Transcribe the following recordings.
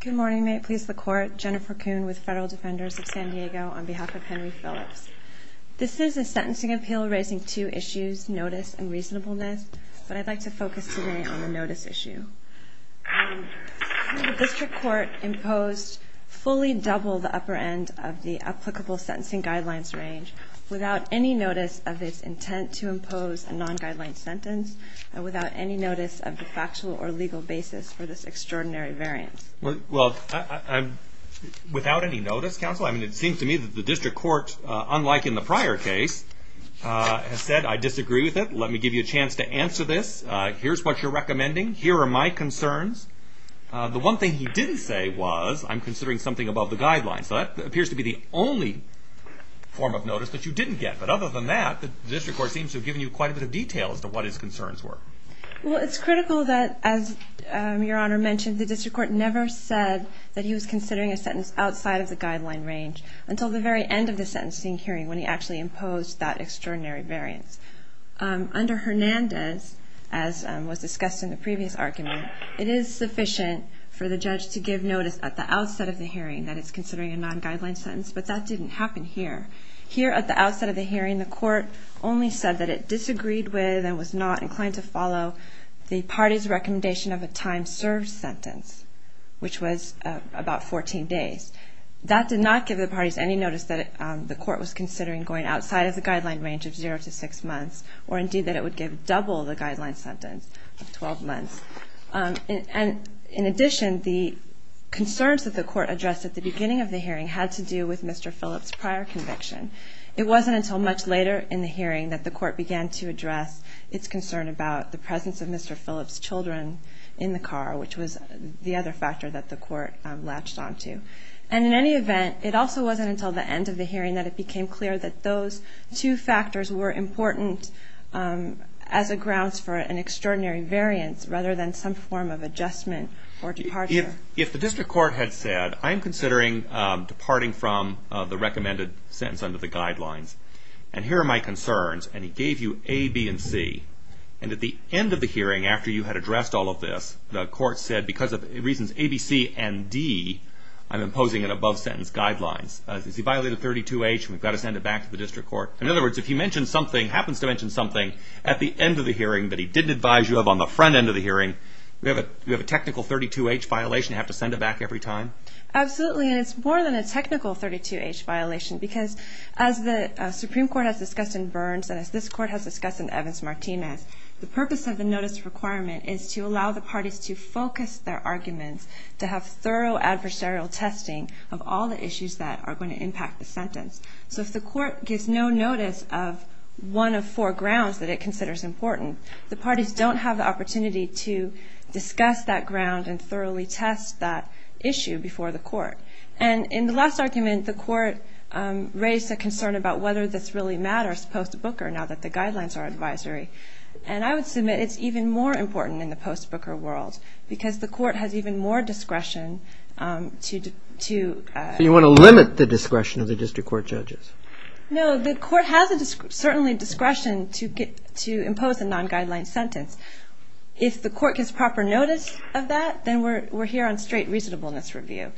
Good morning. May it please the Court, Jennifer Kuhn with Federal Defenders of San Diego on behalf of Henry Phillips. This is a sentencing appeal raising two issues, notice and reasonableness. But I'd like to focus today on the notice issue. District Court imposed fully double the upper end of the applicable sentencing guidelines range without any notice of its intent to impose a non-guideline sentence and without any notice of the factual or legal basis for this extraordinary variance. Well, without any notice, counsel, I mean, it seems to me that the district court, unlike in the prior case, has said, I disagree with it. Let me give you a chance to answer this. Here's what you're recommending. Here are my concerns. The one thing he didn't say was, I'm considering something above the guidelines. So that appears to be the only form of notice that you didn't get. But other than that, the district court seems to have given you quite a bit of detail as to what his concerns were. Well, it's critical that, as Your Honor mentioned, the district court never said that he was considering a sentence outside of the guideline range until the very end of the sentencing hearing, when he actually imposed that extraordinary variance. Under Hernandez, as was discussed in the previous argument, it is sufficient for the judge to give notice at the outset of the hearing that it's considering a non-guideline sentence. But that didn't happen here. Here, at the outset of the hearing, the court only said that it disagreed with and was not inclined to follow the party's recommendation of a time served sentence, which was about 14 days. That did not give the parties any notice that the court was considering going outside of the guideline range of zero to six months, or indeed that it would give double the guideline sentence of 12 months. And in addition, the concerns that the court addressed at the beginning of the hearing had to do with Mr. Phillips' prior conviction. It wasn't until much later in the hearing that the court began to address its concern about the presence of Mr. Phillips' children in the car, which was the other factor that the court latched onto. And in any event, it also wasn't until the end of the hearing that it became clear that those two factors were important as a grounds for an extraordinary variance, rather than some form of adjustment or departure. If the district court had said, I'm considering departing from the recommended sentence under the guidelines. And here are my concerns. And he gave you A, B, and C. And at the end of the hearing, after you had addressed all of this, the court said, because of reasons A, B, C, and D, I'm imposing an above-sentence guidelines. Does he violate a 32H? We've got to send it back to the district court. In other words, if he mentions something, happens to mention something, at the end of the hearing that he didn't advise you of on the front end of the hearing, we have a technical 32H violation. You have to send it back every time? Absolutely. And it's more than a technical 32H violation. Because as the Supreme Court has discussed in Burns, and as this court has discussed in Evans-Martinez, the purpose of the notice requirement is to allow the parties to focus their arguments, to have thorough adversarial testing of all the issues that are going to impact the sentence. So if the court gives no notice of one of four grounds that it considers important, the parties and thoroughly test that issue before the court. And in the last argument, the court raised a concern about whether this really matters post-Booker, now that the guidelines are advisory. And I would submit it's even more important in the post-Booker world. Because the court has even more discretion to do. You want to limit the discretion of the district court judges? No, the court has certainly discretion to impose a non-guideline sentence. If the court gives proper notice of that, then we're here on straight reasonableness review.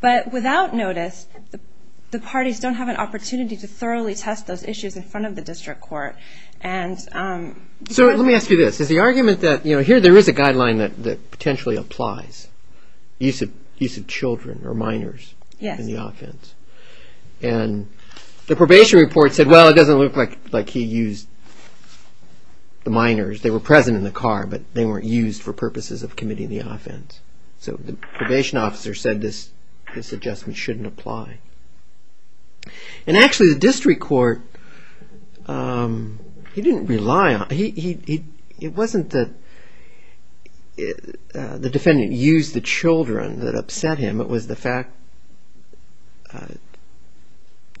But without notice, the parties don't have an opportunity to thoroughly test those issues in front of the district court. And so let me ask you this, is the argument that here there is a guideline that potentially applies, use of children or minors in the offense. And the probation report said, well, it doesn't look like he used the minors. They were present in the car, but they weren't used for purposes of committing the offense. So the probation officer said this adjustment shouldn't apply. And actually, the district court, he didn't rely on it. It wasn't that the defendant used the children that upset him. It was the fact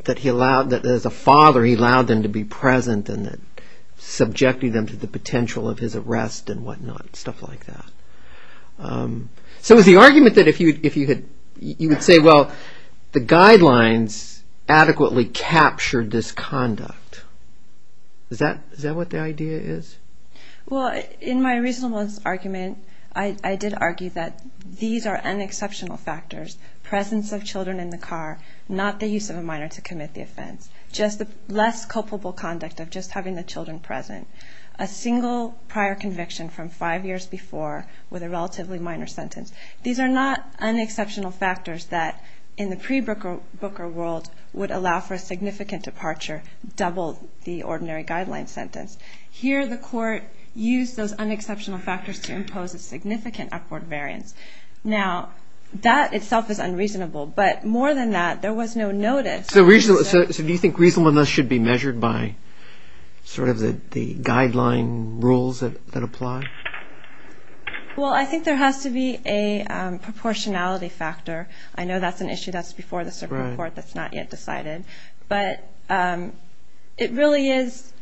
that as a father, he allowed them to be present and subjected them to the potential of his arrest and whatnot, stuff like that. So is the argument that if you would say, well, the guidelines adequately captured this conduct, is that what the idea is? Well, in my reasonableness argument, I did argue that these are unexceptional factors. Presence of children in the car, not the use of a minor to commit the offense. Just the less culpable conduct of just having the children present. A single prior conviction from five years before with a relatively minor sentence. These are not unexceptional factors that in the pre-Booker world would allow for a significant departure, double the ordinary guideline sentence. Here, the court used those unexceptional factors to impose a significant upward variance. Now, that itself is unreasonable. But more than that, there was no notice. So do you think reasonableness should be measured by the guideline rules that apply? Well, I think there has to be a proportionality factor. I know that's an issue that's before the Supreme Court that's not yet decided. But it really is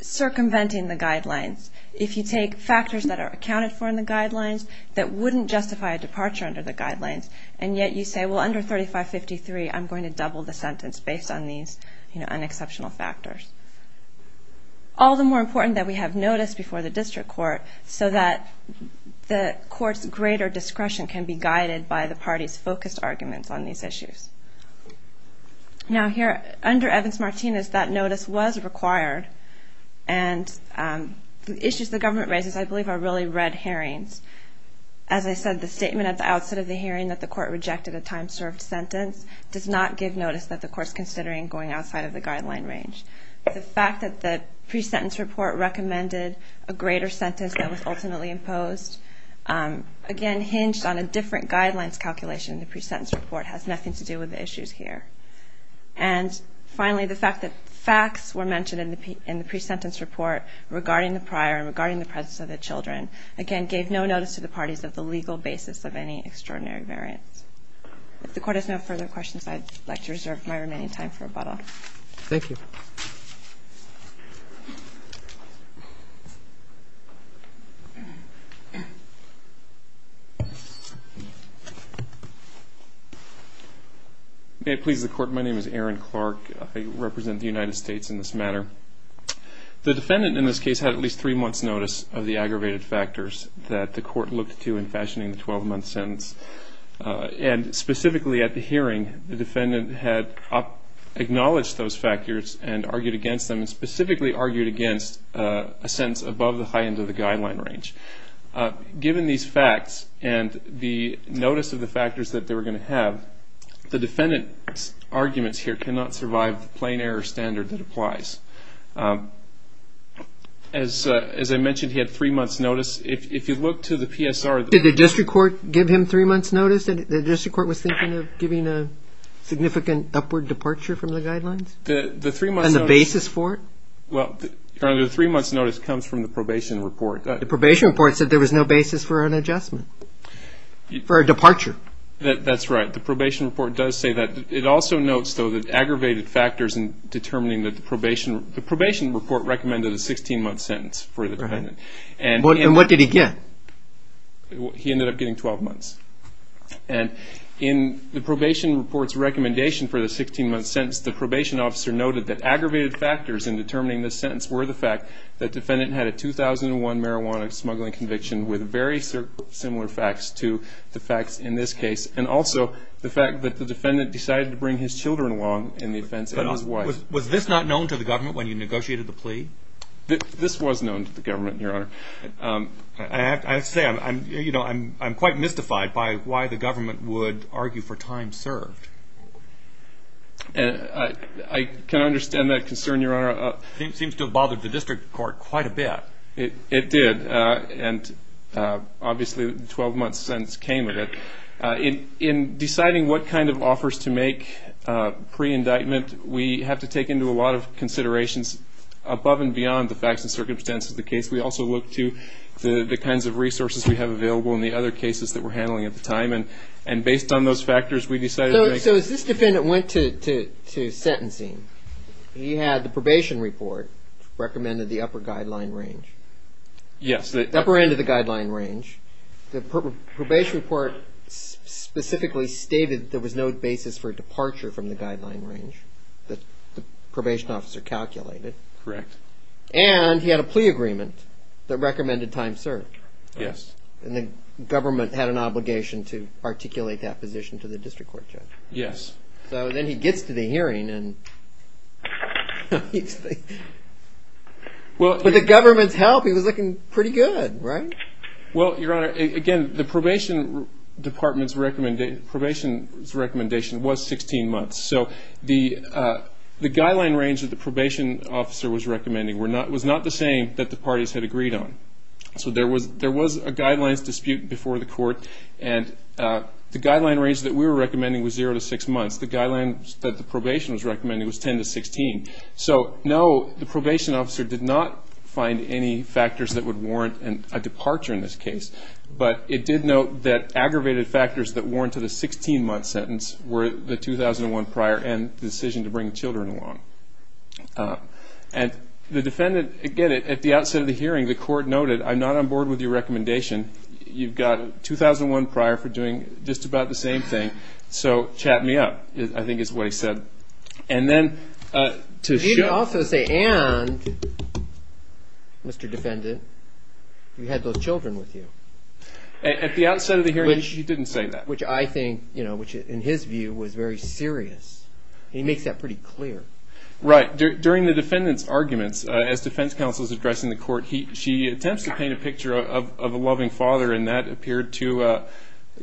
circumventing the guidelines. If you take factors that are accounted for in the guidelines that wouldn't justify a departure under the guidelines, and yet you say, well, under 3553, I'm going to double the sentence based on these unexceptional factors. All the more important that we have notice before the district court so that the court's greater discretion can be guided by the party's focused arguments on these issues. Now, here, under Evans-Martinez, that notice was required. And the issues the government raises, I believe, are really red hearings. As I said, the statement at the outset of the hearing that the court rejected a time-served sentence does not give notice that the court's considering going outside of the guideline range. The fact that the pre-sentence report recommended a greater sentence that was ultimately imposed, again, hinged on a different guidelines calculation. The pre-sentence report has nothing to do with the issues here. And finally, the fact that facts were mentioned in the pre-sentence report regarding the prior and regarding the presence of the children, again, gave no notice to the parties of the legal basis of any extraordinary variance. If the court has no further questions, I'd like to reserve my remaining time for rebuttal. Thank you. May it please the court, my name is Aaron Clark. I represent the United States in this matter. The defendant in this case had at least three months notice of the aggravated factors that the court looked to in fashioning the 12-month sentence. And specifically at the hearing, the defendant had acknowledged those factors and argued against them, and specifically argued against a sentence above the high end of the guideline range. Given these facts and the notice of the factors that they were going to have, the defendant's arguments here cannot survive the plain error standard that applies. As I mentioned, he had three months notice. If you look to the PSR. Did the district court give him three months notice? The district court was thinking of giving a significant upward departure from the guidelines? The three months notice. And the basis for it? Well, the three months notice comes from the probation report. The probation report said there was no basis for an adjustment, for a departure. That's right. The probation report does say that. It also notes, though, that aggravated factors in determining that the probation report recommended a 16-month sentence for the defendant. And what did he get? He ended up getting 12 months. And in the probation report's recommendation for the 16-month sentence, the probation officer noted that aggravated factors in determining the sentence were the fact that defendant had a 2001 marijuana smuggling conviction with very similar facts to the facts in this case, and also the fact that the defendant decided to bring his children along in the offense and his wife. Was this not known to the government when you negotiated the plea? This was known to the government, Your Honor. I have to say, I'm quite mystified by why the government would argue for time served. I can understand that concern, Your Honor. It seems to have bothered the district court quite a bit. It did. And obviously, the 12-month sentence came with it. In deciding what kind of offers to make pre-indictment, we have to take into a lot of considerations above and beyond the facts and circumstances of the case. We also look to the kinds of resources we have available in the other cases that we're handling at the time. And based on those factors, we decided to make. So as this defendant went to sentencing, he had the probation report recommended the upper guideline range. Yes. The upper end of the guideline range. The probation report specifically stated there was no basis for departure from the guideline range that the probation officer calculated. Correct. And he had a plea agreement that recommended time served. Yes. And the government had an obligation to articulate that position to the district court judge. Yes. So then he gets to the hearing, and with the government's help, he was looking pretty good, right? Well, Your Honor, again, the probation department's recommendation was 16 months. So the guideline range that the probation officer was recommending was not the same that the parties had agreed on. So there was a guidelines dispute before the court. And the guideline range that we were recommending was zero to six months. The guideline that the probation was recommending was 10 to 16. So no, the probation officer did not find any factors that would warrant a departure in this case. But it did note that aggravated factors that and the decision to bring children along. And the defendant, again, at the outset of the hearing, the court noted, I'm not on board with your recommendation. You've got a 2001 prior for doing just about the same thing. So chat me up, I think is what he said. And then to show. You didn't also say, and, Mr. Defendant, you had those children with you. At the outset of the hearing, he didn't say that. Which I think, in his view, was very serious. He makes that pretty clear. Right. During the defendant's arguments, as defense counsel is addressing the court, she attempts to paint a picture of a loving father. And that appeared to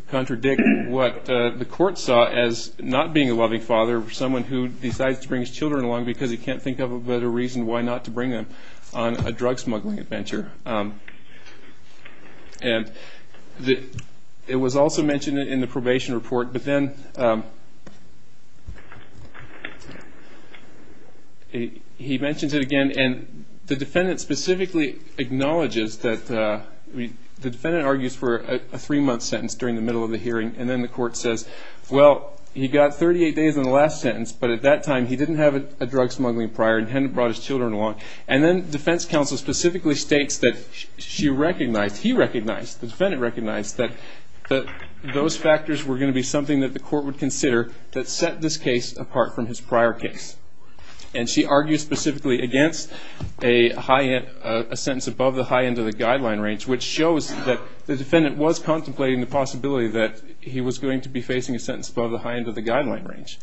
contradict what the court saw as not being a loving father for someone who decides to bring his children along because he can't think of a better reason why not to bring them on a drug smuggling adventure. And it was also mentioned in the probation report. But then he mentions it again. And the defendant specifically acknowledges that the defendant argues for a three-month sentence during the middle of the hearing. And then the court says, well, he got 38 days in the last sentence. But at that time, he didn't have a drug smuggling prior and hadn't brought his children along. And then defense counsel specifically states that she recognized, he recognized, the defendant recognized that those factors were going to be something that the court would consider that set this case apart from his prior case. And she argues specifically against a sentence above the high end of the guideline range, which shows that the defendant was contemplating the possibility that he was going to be facing a sentence above the high end of the guideline range.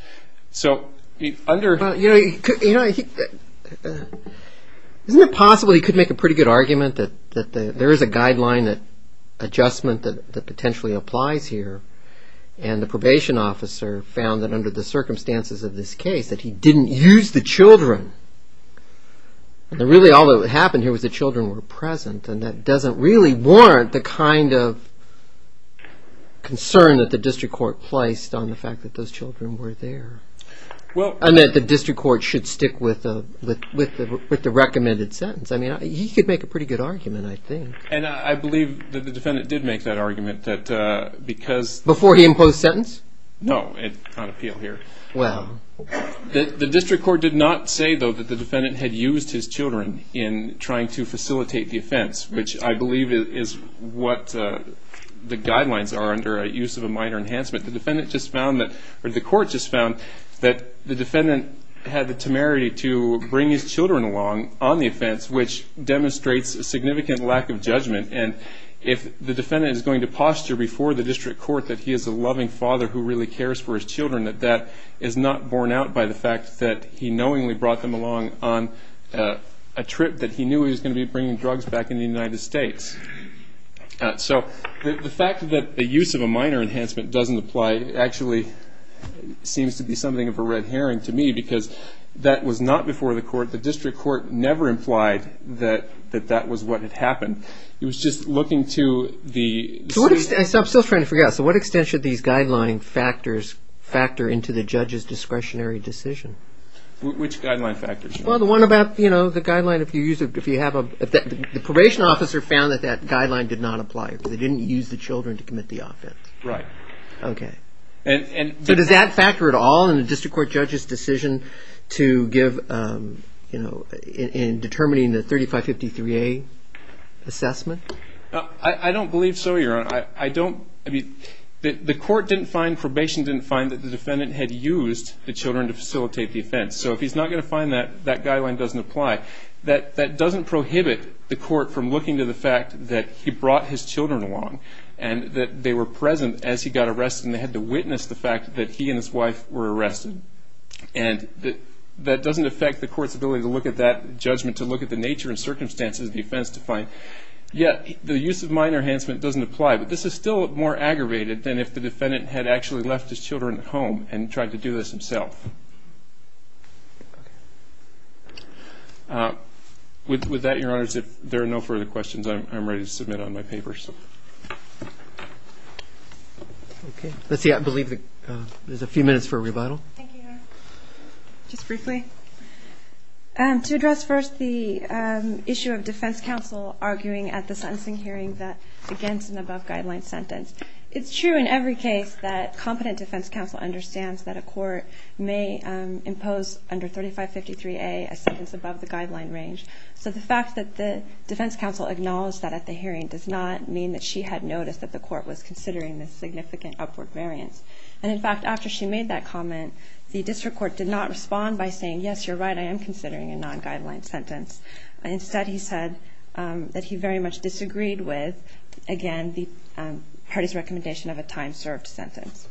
So under- Well, isn't it possible he could make a pretty good argument that there is a guideline adjustment that potentially applies here? And the probation officer found that under the circumstances of this case, that he didn't use the children. And really, all that happened here was the children were present. And that doesn't really warrant the kind of concern that the district court placed on the fact that those children were there. I meant the district court should stick with the recommended sentence. I mean, he could make a pretty good argument, I think. And I believe that the defendant did make that argument, that because- Before he imposed sentence? No, on appeal here. Wow. The district court did not say, though, that the defendant had used his children in trying to facilitate the offense, which I believe is what the guidelines are under use of a minor enhancement. The defendant just found that, or the court just found that the defendant had the temerity to bring his children along on the offense, which demonstrates a significant lack of judgment. And if the defendant is going to posture before the district court that he is a loving father who really cares for his children, that that is not borne out by the fact that he knowingly brought them along on a trip that he knew he was going to be bringing drugs back in the United States. So the fact that the use of a minor enhancement doesn't apply actually seems to be something of a red herring to me, because that was not before the court. The district court never implied that that was what had happened. It was just looking to the state- I'm still trying to figure out. So what extent should these guideline factors factor into the judge's discretionary decision? Which guideline factors? Well, the one about the guideline, if you have a- the probation officer found that that guideline did not apply. They didn't use the children to commit the offense. OK. So does that factor at all in the district court judge's decision to give in determining the 3553A assessment? I don't believe so, Your Honor. The court didn't find, probation didn't find that the defendant had used the children to facilitate the offense. So if he's not going to find that, that guideline doesn't apply. That doesn't prohibit the court from looking to the fact that he brought his children along and that they were present as he got arrested and they had to witness the fact that he and his wife were arrested. And that doesn't affect the court's ability to look at that judgment, to look at the nature and circumstances of the offense to find. Yet, the use of minor enhancement doesn't apply. But this is still more aggravated than if the defendant had actually left his children at home and tried to do this himself. With that, Your Honors, if there are no further questions, I'm ready to submit on my paper. Thank you, Your Honors. Let's see, I believe there's a few minutes for a rebuttal. Thank you, Your Honor. Just briefly, to address first the issue of defense counsel arguing at the sentencing hearing that against an above-guideline sentence. It's true in every case that competent defense counsel understands that a court may impose under 3553A a sentence above the guideline range. So the fact that the defense counsel acknowledged that at the hearing does not mean that she had noticed that the court was considering this significant upward variance. And in fact, after she made that comment, the district court did not respond by saying, yes, you're right, I am considering a non-guideline sentence. Instead, he said that he very much disagreed with, again, the party's recommendation of a time-served sentence.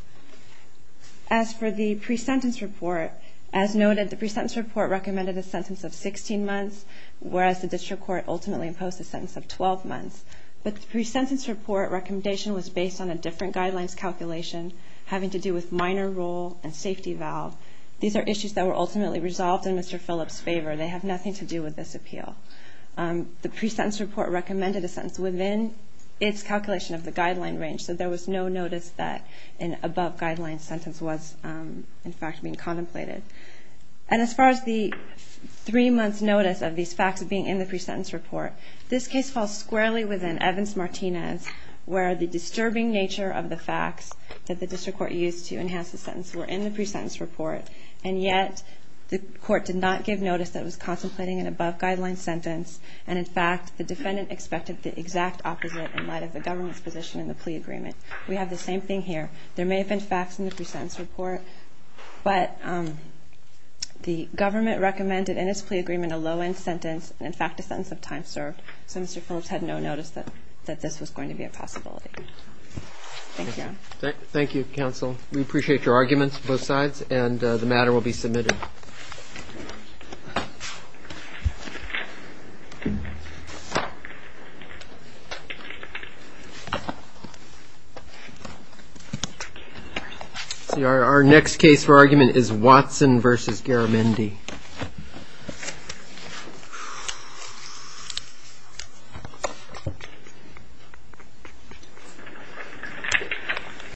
As for the pre-sentence report, as noted, the pre-sentence report recommended a sentence of 16 months, whereas the district court ultimately imposed a sentence of 12 months. But the pre-sentence report recommendation was based on a different guidelines calculation, having to do with minor rule and safety valve. These are issues that were ultimately resolved in Mr. Phillips' favor. They have nothing to do with this appeal. The pre-sentence report recommended a sentence within its calculation of the guideline range, so there was no notice that an above-guideline sentence was, in fact, being contemplated. And as far as the three-months notice of these facts being in the pre-sentence report, this case falls squarely within Evans-Martinez, where the disturbing nature of the facts that the district court used to enhance the sentence were in the pre-sentence report. And yet, the court did not give notice that it was contemplating an above-guideline sentence. And in fact, the defendant expected the exact opposite in light of the government's position in the plea agreement. We have the same thing here. There may have been facts in the pre-sentence report, but the government recommended in its plea agreement a low-end sentence, in fact, a sentence of time served. So Mr. Phillips had no notice that this was going to be a possibility. Thank you. Thank you, counsel. We appreciate your arguments on both sides, and the matter will be submitted. Our next case for argument is Watson versus Garamendi.